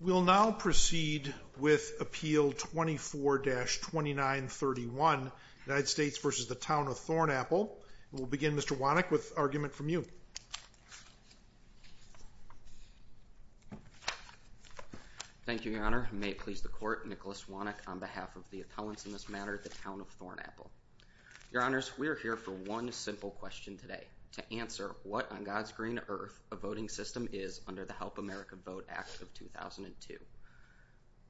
We'll now proceed with Appeal 24-2931, United States v. Town of Thornapple, and we'll begin Thank you, Your Honor. May it please the Court, Nicholas Wannick on behalf of the appellants in this matter, the Town of Thornapple. Your Honors, we are here for one simple question today, to answer what on God's green earth a voting system is under the Help America Vote Act of 2002.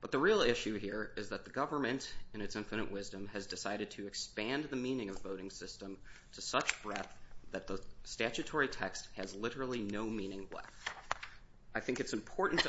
But the real issue here is that the government, in its infinite wisdom, has decided to expand the meaning of voting system to such breadth that the statutory text has literally no meaning left. I think it's important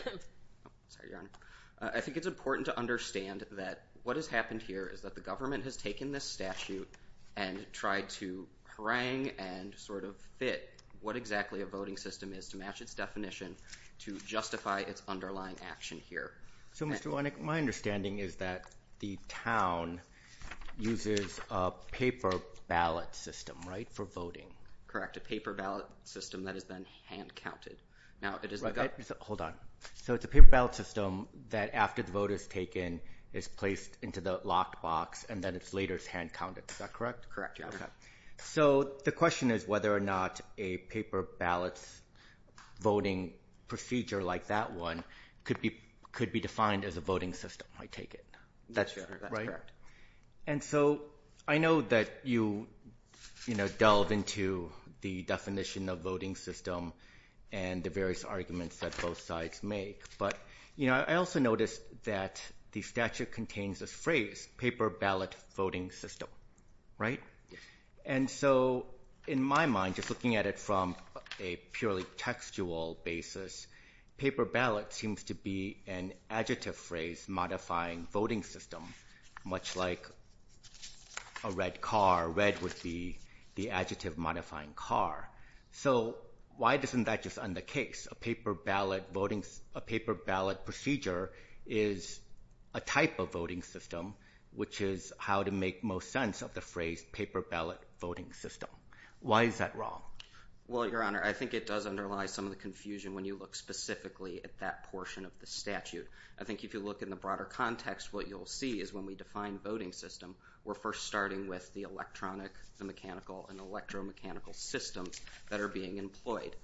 to understand that what has happened here is that the government has taken this statute and tried to harangue and sort of fit what exactly a voting system is to match its definition to justify its underlying action here. So, Mr. Wannick, my understanding is that the town uses a paper ballot system, right, for voting. Correct. A paper ballot system that is then hand-counted. Now, it is the government... Hold on. So it's a paper ballot system that after the vote is taken is placed into the locked box and then it's later hand-counted. Is that correct? Correct. So the question is whether or not a paper ballot voting procedure like that one could be defined as a voting system, I take it. That's right. And so I know that you delve into the definition of voting system and the various arguments that both sides make, but I also noticed that the statute contains this phrase, paper ballot voting system, right? And so in my mind, just looking at it from a purely textual basis, paper ballot seems to be an adjective phrase modifying voting system, much like a red car, red would be the adjective modifying car. So why doesn't that just end the case? A paper ballot voting, a paper ballot procedure is a type of voting system, which is how to make most sense of the phrase paper ballot voting system. Why is that wrong? Well, Your Honor, I think it underlies some of the confusion when you look specifically at that portion of the statute. I think if you look in the broader context, what you'll see is when we define voting system, we're first starting with the electronic, the mechanical and electromechanical systems that are being employed.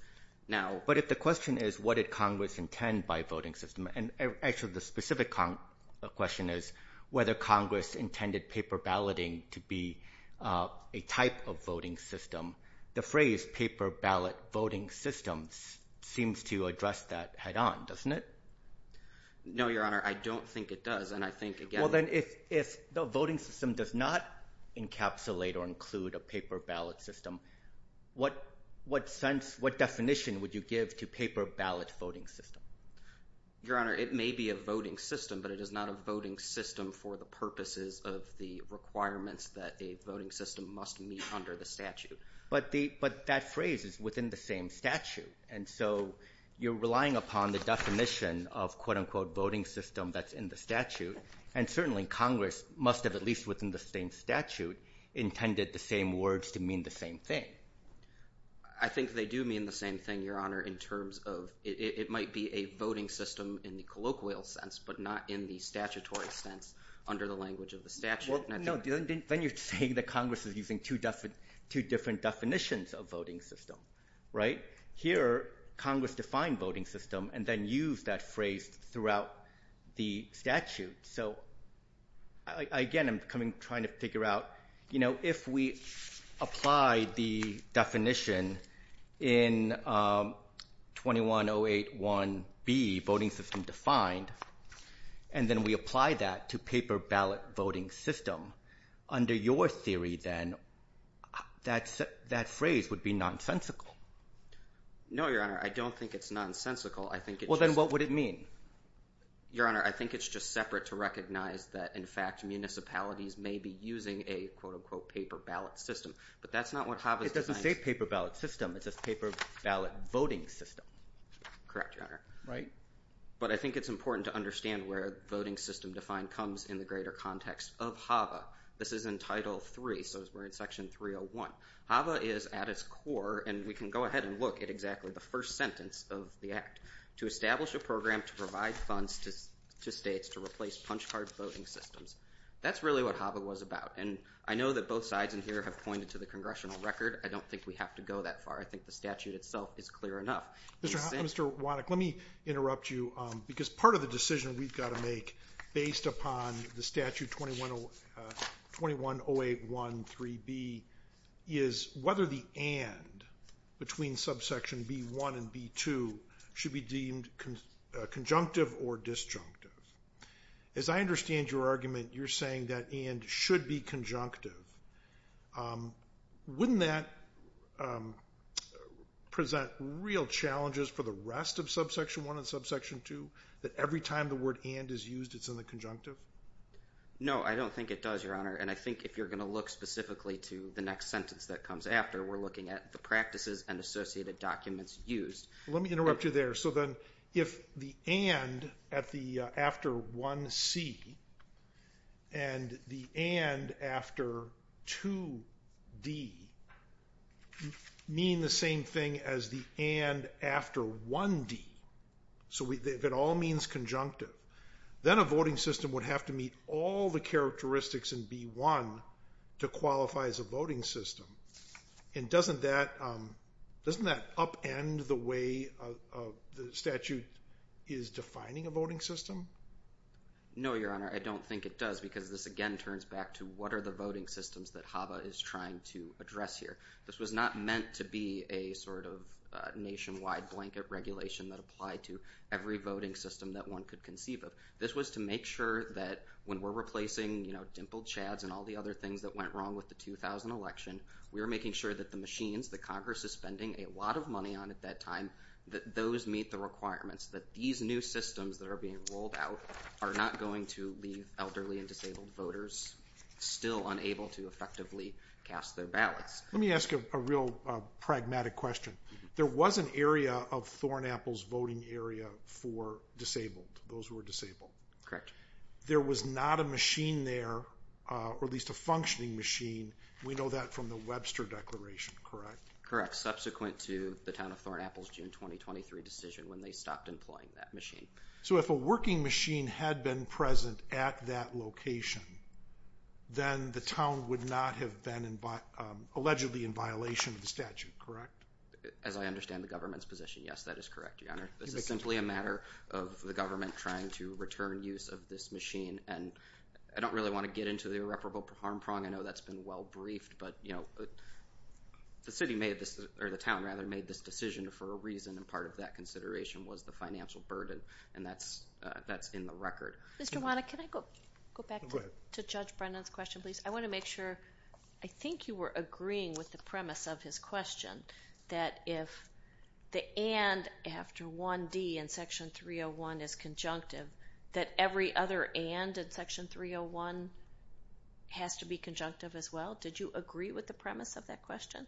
Now, but if the question is what did Congress intend by voting system and actually the specific question is whether Congress intended paper balloting to be a type of voting system, the phrase paper ballot voting systems seems to address that head on, doesn't it? No, Your Honor, I don't think it does. And I think, well, then if, if the voting system does not encapsulate or include a paper ballot system, what, what sense, what definition would you give to paper ballot voting system? Your Honor, it may be a voting system, but it is not a voting system for the purposes of the requirements that a voting system must meet under the statute. But the, but that phrase is within the same statute. And so you're relying upon the definition of quote unquote voting system that's in the statute. And certainly Congress must have at least within the same statute intended the same words to mean the same thing. I think they do mean the same thing, Your Honor, in terms of it, it might be a voting system in the colloquial sense, but not in the statutory sense under the language of the statute. Then you're saying that Congress is using two different definitions of voting system, right? Here, Congress defined voting system and then use that phrase throughout the statute. So I, again, I'm coming, trying to figure out, you know, if we apply the definition in 21081B voting system defined, and then we apply that to paper ballot voting system under your theory, then that's, that phrase would be nonsensical. No, Your Honor. I don't think it's nonsensical. I think it, well then what would it mean? Your Honor, I think it's just separate to recognize that in fact, municipalities may be using a quote unquote paper ballot system, but that's not what HAVA is. It doesn't say paper ballot system. It says paper ballot voting system. Correct, Your Honor. Right. But I think it's important to understand where voting system defined comes in the greater context of HAVA. This is in title three. So we're in section 301. HAVA is at its core, and we can go ahead and look at exactly the first sentence of the act. To establish a program to provide funds to states to replace punch card voting systems. That's really what HAVA was about. And I know that both sides in here have pointed to the congressional record. I don't think we have to go that far. I think the statute itself is clear enough. Mr. Wannick, let me interrupt you because part of the decision we've got to make based upon the statute 2108.1.3.B is whether the and between subsection B.1 and B.2 should be deemed conjunctive or disjunctive. As I understand your argument, you're saying that the and should be conjunctive. Wouldn't that present real challenges for the rest of subsection one and subsection two, that every time the word and is used, it's in the conjunctive? No, I don't think it does, Your Honor. And I think if you're going to look specifically to the next sentence that comes after, we're looking at the practices and associated documents used. Let me interrupt you there. So then if the and after 1C and the and after 2D mean the same thing as the and after 1D, so if it all means conjunctive, then a voting system would have to meet all the characteristics in B.1 to qualify as a voting system. And doesn't that upend the way the statute is defining a voting system? No, Your Honor. I don't think it does because this again turns back to what are the voting systems that HABA is trying to address here. This was not meant to be a sort of nationwide blanket regulation that applied to every voting system that one could conceive of. This was to make sure that when we're replacing dimpled chads and all the other things that went wrong with the 2000 election, we were making sure that the machines that Congress is spending a lot of money on at that time, that those meet the requirements, that these new systems that are being rolled out are not going to leave elderly and disabled voters still unable to effectively cast their ballots. Let me ask you a real pragmatic question. There was an area of Thorn Apple's voting area for disabled, those who were disabled. Correct. There was not a machine there, or at least a functioning machine. We know that from the Webster Declaration, correct? Correct. Subsequent to the town of Thorn Apple's June 2023 decision when they stopped employing that machine. So if a working machine had been present at that location, then the town would not have been allegedly in violation of the statute, correct? As I understand the government's position, yes, that is correct, Your Honor. This is simply a matter of the government trying to return use of this machine, and I don't really want to get into the irreparable harm prong. I know that's been well briefed, but the city made this, or the town rather, made this decision for a reason, and part of that consideration was the financial burden, and that's in the record. Mr. Wanna, can I go back to Judge Brennan's question, please? I want to make sure, I think you were agreeing with the premise of his question, that if the and after 1D in Section 301 is conjunctive, that every other and in Section 301 has to be conjunctive as well. Did you agree with the premise of that question?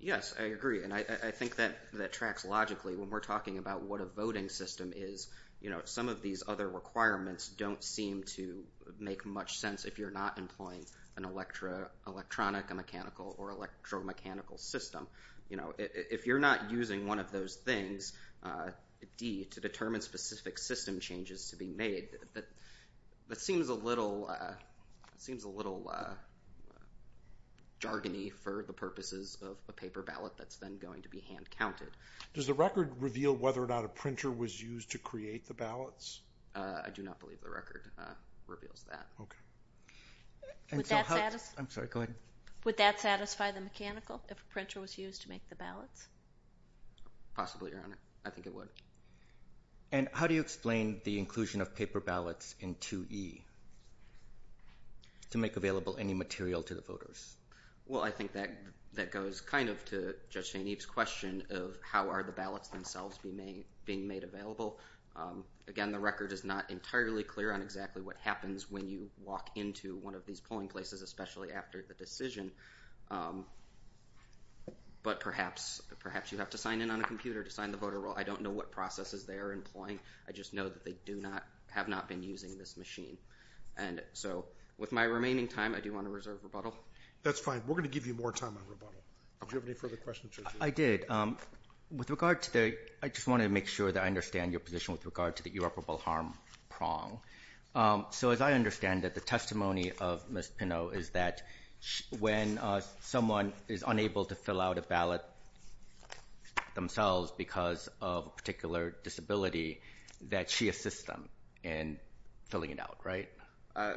Yes, I agree, and I think that tracks logically. When we're talking about what a voting system is, some of these other requirements don't seem to make much sense if you're not employing an electromechanical system. If you're not using one of those things, D, to determine specific system changes to be made, that seems a little jargony for the purposes of a paper ballot that's then going to be hand-counted. Does the record reveal whether or not a printer was used to create the ballots? I do not believe the record reveals that. Would that satisfy the mechanical if a printer was used to make the ballots? Possibly, Your Honor. I think it would. And how do you explain the inclusion of paper ballots in 2E to make available any material to the voters? Well, I think that goes kind of to Judge St. Eve's question of how are the ballots themselves being made available. Again, the record is not entirely clear on exactly what happens when you walk into one of these polling places, especially after the decision, but perhaps you have to sign in on a computer to sign the voter roll. I don't know what processes they are employing. I just know that they have not been using this machine. And so, with my remaining time, I do want to reserve rebuttal. That's fine. We're going to give you more time on rebuttal. Did you have any further questions, Judge Eve? I did. With regard to the—I just wanted to make sure that I understand your position with regard to the irreparable harm prong. So, as I understand it, the testimony of Ms. Pinnow is that when someone is unable to fill out a ballot themselves because of a particular disability that she assists them in filling it out, right?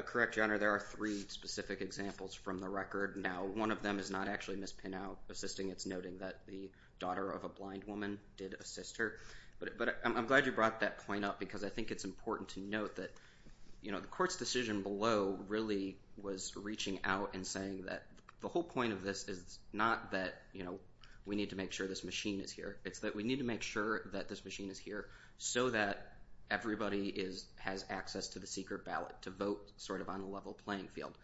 Correct, Your Honor. There are three specific examples from the record. Now, one of them is not actually Ms. Pinnow assisting. It's noting that the daughter of a blind woman did assist her. But I'm glad you brought that point up because I think it's important to note that the Court's decision below really was reaching out and saying that the whole point of this is not that we need to make sure this machine is here. It's that we need to make sure that this machine is here so that everybody has access to the secret ballot to vote sort of on a level playing field.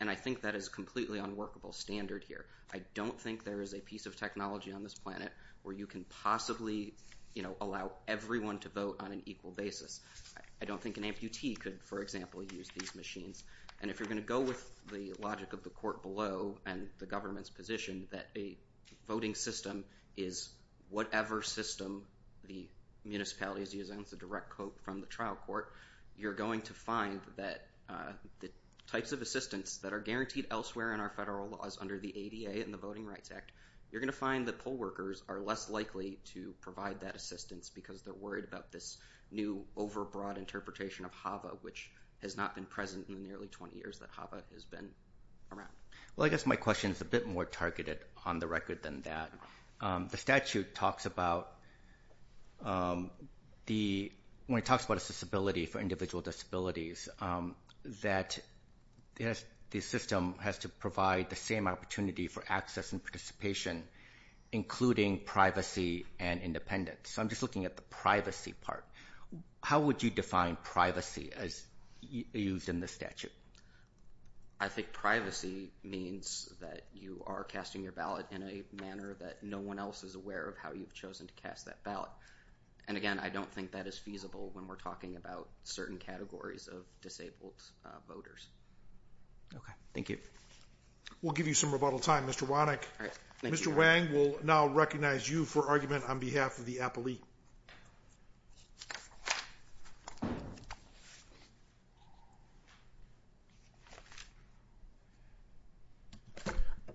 And I think that is a completely unworkable standard here. I don't think there is a piece of technology on this planet where you can possibly allow everyone to vote on an equal basis. I don't think an amputee could, for example, use these machines. And if you're going to go with the logic of the Court below and the government's position that a voting system is whatever system the municipality is using, it's a direct quote from the trial court, you're going to find that the types of assistance that are guaranteed elsewhere in our federal laws under the ADA and the state to provide that assistance because they're worried about this new over broad interpretation of HAVA which has not been present in nearly 20 years that HAVA has been around. Well, I guess my question is a bit more targeted on the record than that. The statute talks about the, when it talks about accessibility for individual disabilities, that the system has to provide the same opportunity for access and participation including privacy and independence. So I'm just looking at the privacy part. How would you define privacy as used in the statute? I think privacy means that you are casting your ballot in a manner that no one else is aware of how you've chosen to cast that ballot. And again, I don't think that is feasible when we're talking about certain categories of disabled voters. Okay, thank you. We'll give you some rebuttal time, Mr. Wannick. Mr. Wang will now recognize you for argument on behalf of the appellee.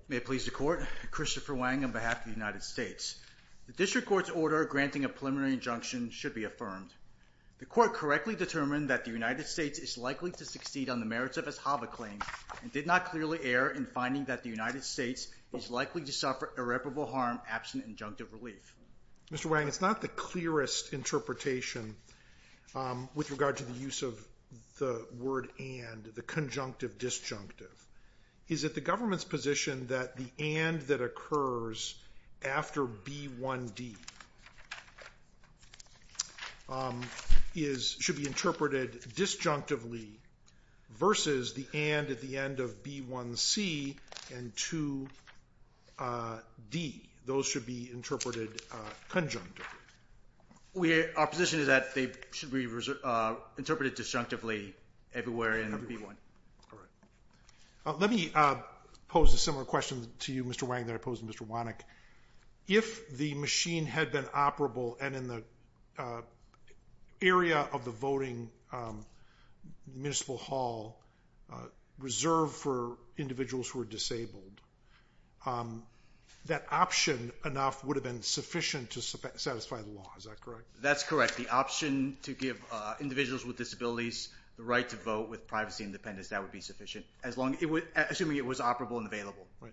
May it please the court, Christopher Wang on behalf of the United States. The district court's order granting a preliminary injunction should be affirmed. The court correctly determined that the United States is likely to succeed on the merits of its HAVA claim and did not clearly err in finding that the United States is likely to suffer irreparable harm absent injunctive relief. Mr. Wang, it's not the clearest interpretation with regard to the use of the word and, the conjunctive disjunctive. Is it the government's position that the and that occurs after B1D should be interpreted disjunctively versus the and at the end of B1C and 2D? Those should be interpreted conjunctively. Our position is that they should be interpreted disjunctively everywhere in B1. Let me pose a similar question to you, Mr. Wang, that I posed to Mr. Wannick. If the machine had been operable and in the area of the voting municipal hall, reserved for individuals who are disabled, that option enough would have been sufficient to satisfy the law, is that correct? That's correct. The option to give individuals with disabilities the right to vote with privacy and independence, that would be sufficient. Assuming it was operable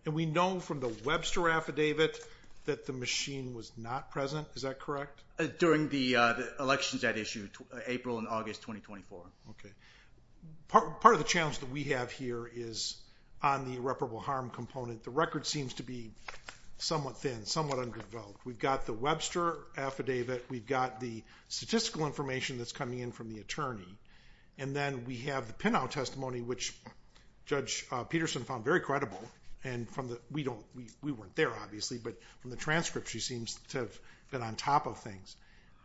and we know from the Webster affidavit that the machine was not present, is that correct? During the elections that issue, April and August 2024. Part of the challenge that we have here is on the irreparable harm component. The record seems to be somewhat thin, somewhat underdeveloped. We've got the Webster affidavit, we've got the statistical information that's coming in from the attorney, and then we have the pinout testimony, which Judge Peterson found very credible. We weren't there, obviously, but from the transcripts, she seems to have been on top of things.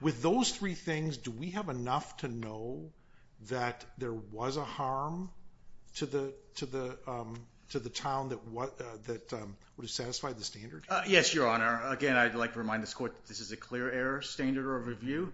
With those three things, do we have enough to know that there was a harm to the town that would have satisfied the standard? Yes, Your Honor. Again, I'd like to remind this Court that this is a clear error standard of review.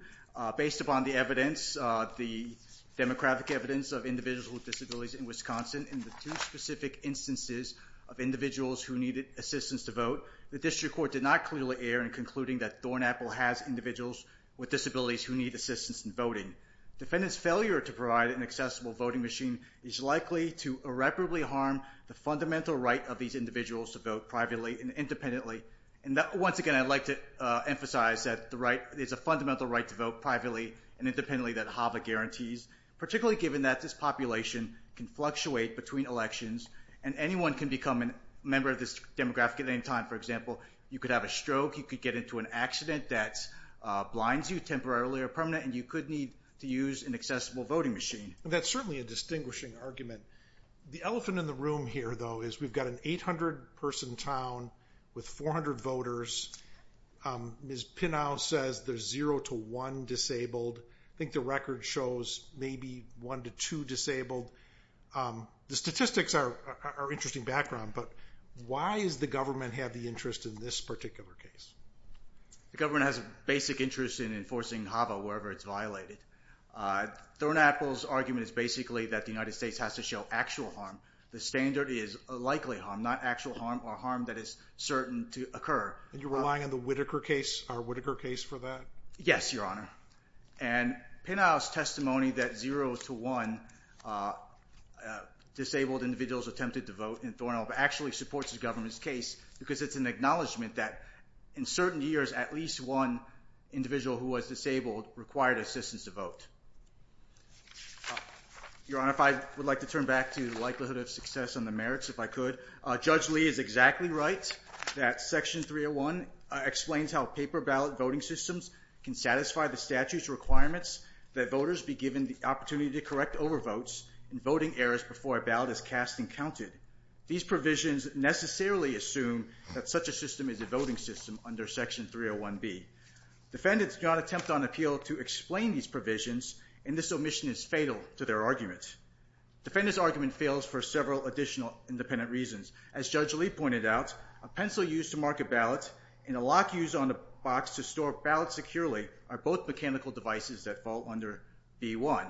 Based upon the evidence, the demographic evidence of individuals with disabilities in Wisconsin, and the two specific instances of individuals who needed assistance to vote, the District Court did not clearly err in concluding that Thornaple has individuals with disabilities who need assistance in voting. Defendants' failure to provide an accessible voting machine is likely to irreparably harm the fundamental right of these individuals to vote privately and independently. Once again, I'd like to emphasize that there's a fundamental right to vote privately and independently that HAVA guarantees, particularly given that this population can fluctuate between elections and anyone can become a member of this demographic at any time. For example, you could have a stroke, you could get into an accident that blinds you temporarily or permanently, and you could need to use an accessible voting machine. That's certainly a distinguishing argument. The elephant in the room here, though, is we've got an 800-person town with 400 voters. Ms. Pinnow says there's zero to one disabled. I think the record shows maybe one to two disabled. The statistics are interesting background, but why does the government have the interest in this particular case? The government has a basic interest in enforcing HAVA wherever it's violated. Thornaple's argument is basically that the United States has to show actual harm. The standard is likely harm, not actual harm or harm that is certain to occur. And you're relying on the Whitaker case, our Whitaker case for that? Yes, Your Honor. And Pinnow's testimony that zero to one disabled individuals attempted to vote in Thornhill actually supports the government's case because it's an acknowledgement that in certain years, at least one individual who was disabled required assistance to vote. Your Honor, if I would like to turn back to the likelihood of success on the merits, if I could. Judge Lee is exactly right that Section 301 explains how paper ballot voting systems can satisfy the statute's requirements that voters be given the opportunity to correct overvotes and voting errors before a ballot is cast and counted. These provisions necessarily assume that such a system is a voting system under Section 301B. Defendants do not attempt on appeal to explain these provisions, and this omission is fatal to their argument. Defendant's argument fails for several additional independent reasons. As Judge Lee pointed out, a pencil used to mark a ballot and a lock used on a box to store ballots securely are both mechanical devices that fall under B1.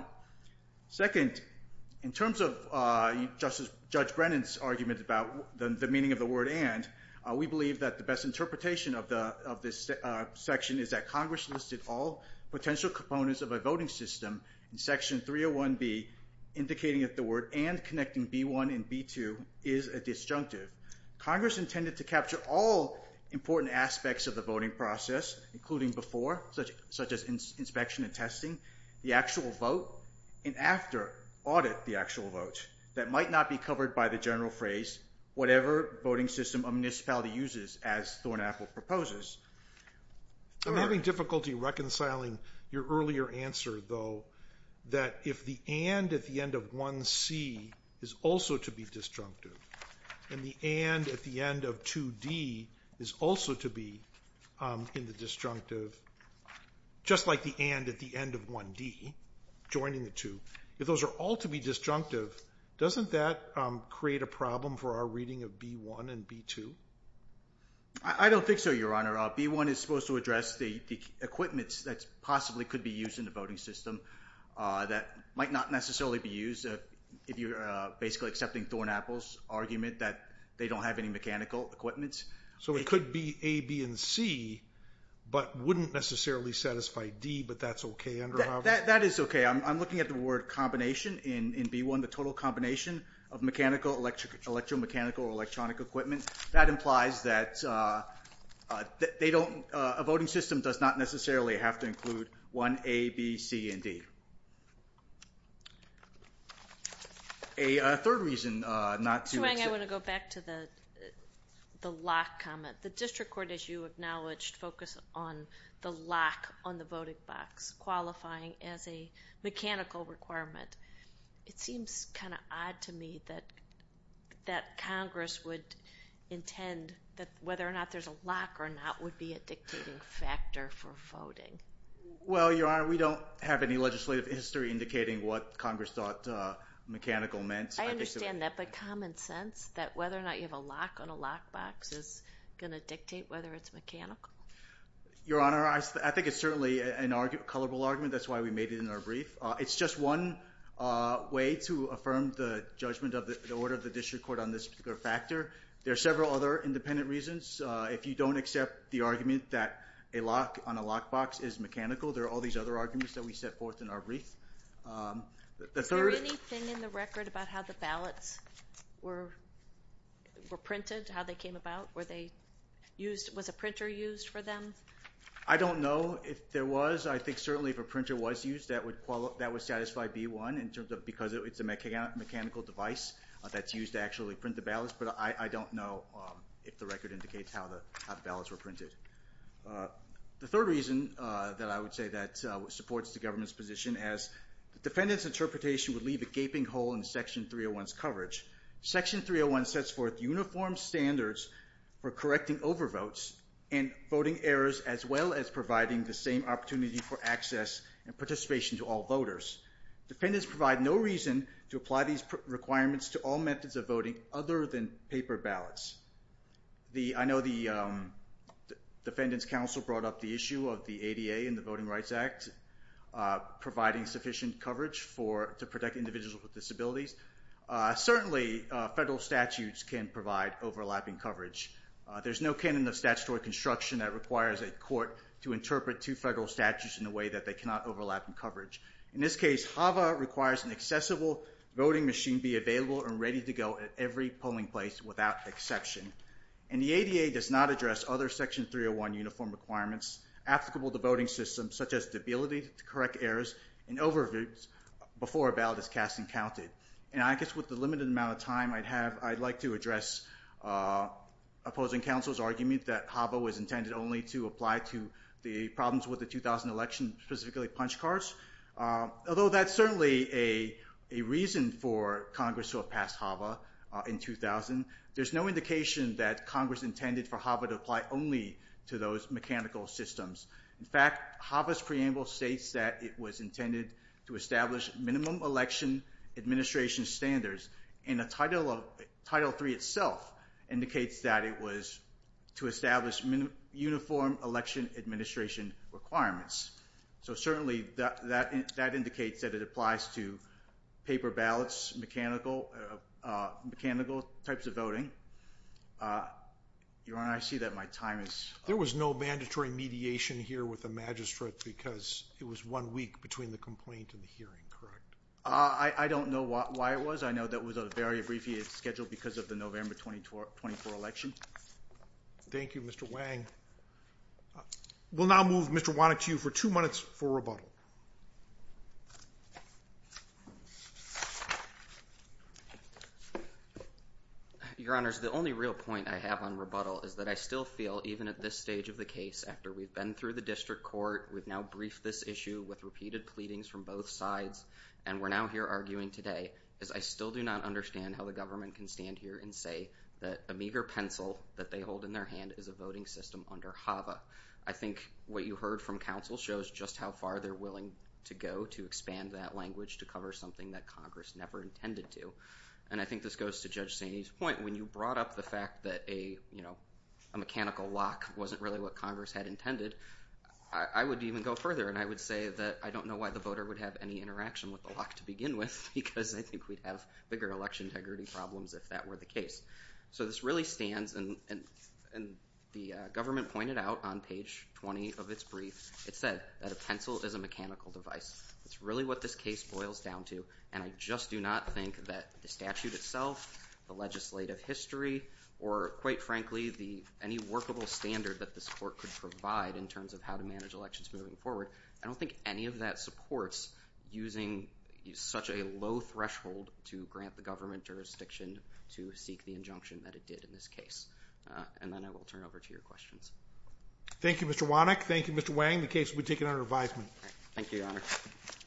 Second, in terms of Judge Brennan's argument about the meaning of the word and, we believe that the best interpretation of this section is that Congress listed all potential components of a voting system in Section 301B indicating that the word and connecting B1 and B2 is a disjunctive. Congress intended to capture all important aspects of the voting process, including before, such as inspection and testing, the actual vote, and after, audit the actual vote. That might not be covered by the general phrase, whatever voting system a municipality uses, as Thornapple proposes. I'm having difficulty reconciling your earlier answer, though, that if the and at the end of 1C is also to be disjunctive, and the and at the end of 2D is also to be in the disjunctive, just like the and at the end of 1D, joining the two, if those are all to be disjunctive, doesn't that create a problem for our reading of B1 and B2? I don't think so, Your Honor. B1 is supposed to address the equipment that possibly could be used in the voting system that might not necessarily be used, if you're basically accepting Thornapple's argument that they don't have any mechanical equipment. So it could be A, B, and C, but wouldn't necessarily satisfy D, but that's okay under Harvard? That is okay. I'm looking at the word combination in B1, the total combination of mechanical, electromechanical, or electronic equipment. That implies that a voting system does not necessarily have to include 1A, B, C, and D. A third reason not to accept... Mr. Wang, I want to go back to the lock comment. The district court, as you acknowledged, focused on the lock on the voting box, qualifying as a mechanical requirement. It seems kind of odd to me that Congress would intend that whether or not there's a lock or not would be a dictating factor for voting. Well, Your Honor, we don't have any legislative history indicating what Congress thought mechanical meant. I understand that, but common sense that whether or not you have a lock on a lock box is going to dictate whether it's mechanical? Your Honor, I think it's certainly a colorable argument. That's why we made it in our brief. It's just one way to affirm the judgment of the order of the district court on this particular factor. There are several other independent reasons. If you don't accept the argument that a lock on a lock box is mechanical, there are all these other arguments that we set forth in our brief. Is there anything in the record about how the ballots were printed, how they came about? Was a printer used for them? I don't know if there was. I think certainly if a printer was used, that would satisfy B-1 in terms of because it's a mechanical device that's used to actually print the ballots, but I don't know if the record indicates how the ballots were printed. The third reason that I would say that supports the government's position as defendant's interpretation would leave a gaping hole in Section 301's coverage. Section 301 sets forth uniform standards for correcting overvotes and voting errors as well as providing the same opportunity for access and participation to all voters. Defendants provide no reason to apply these requirements to all methods of voting other than paper ballots. I know the Defendant's Council brought up the issue of the ADA and the Voting Rights Act providing sufficient coverage to protect individuals with disabilities. Certainly federal statutes can provide overlapping coverage. There's no canon of statutory construction that requires a court to interpret two federal statutes in a way that they cannot overlap in coverage. In this case, HAVA requires an accessible voting machine be available and ready to go at every polling place without exception. And the ADA does not address other Section 301 uniform requirements applicable to voting systems such as the ability to correct errors and overvotes before a ballot is cast and counted. And I guess with the limited amount of time I'd have, I'd like to address opposing counsel's argument that HAVA was intended only to apply to the problems with the 2000 election, specifically punch cards. Although that's certainly a reason for Congress to have passed HAVA in 2000, there's no indication that Congress intended for HAVA to apply only to those mechanical systems. In fact, HAVA's preamble states that it was intended to establish minimum election administration standards. And Title III itself indicates that it was to establish uniform election administration requirements. So certainly that indicates that it applies to paper ballots, mechanical types of voting. Your Honor, I see that my time is up. There was no mandatory mediation here with the magistrate because it was one week between the complaint and the hearing, correct? I don't know why it was. I know that it was a very abbreviated schedule because of the November 2024 election. Thank you, Mr. Wang. We'll now move Mr. Wannick to you for two minutes for rebuttal. Your Honors, the only real point I have on rebuttal is that I still feel even at this stage of the case, after we've been through the district court, we've now briefed this issue with repeated pleadings from both sides, and we're now here arguing today, is I still do not understand how the government can stand here and say that a meager pencil that they hold in their hand is a voting system under HAVA. I think what you heard from counsel shows just how far they're willing to go to expand that language to cover something that Congress never intended to. And I think this goes to Judge Saney's point. When you brought up the fact that a mechanical lock wasn't really what Congress had intended, I would even go further, and I would say that I don't know why the voter would have any interaction with the lock to begin with, because I think we'd have bigger election integrity problems if that were the case. So this really stands, and the government pointed out on page 20 of its brief, it said that a pencil is a mechanical device. It's really what this case boils down to, and I just do not think that the statute itself, the legislative history, or quite frankly any workable standard that this court could provide in terms of how to manage elections moving forward, I don't think any of that supports using such a low threshold to grant the government jurisdiction to seek the injunction that it did in this case. And then I will turn over to your questions. Thank you, Mr. Wannick. Thank you, Mr. Wang. The case will be taken under advisement. Thank you, Your Honor.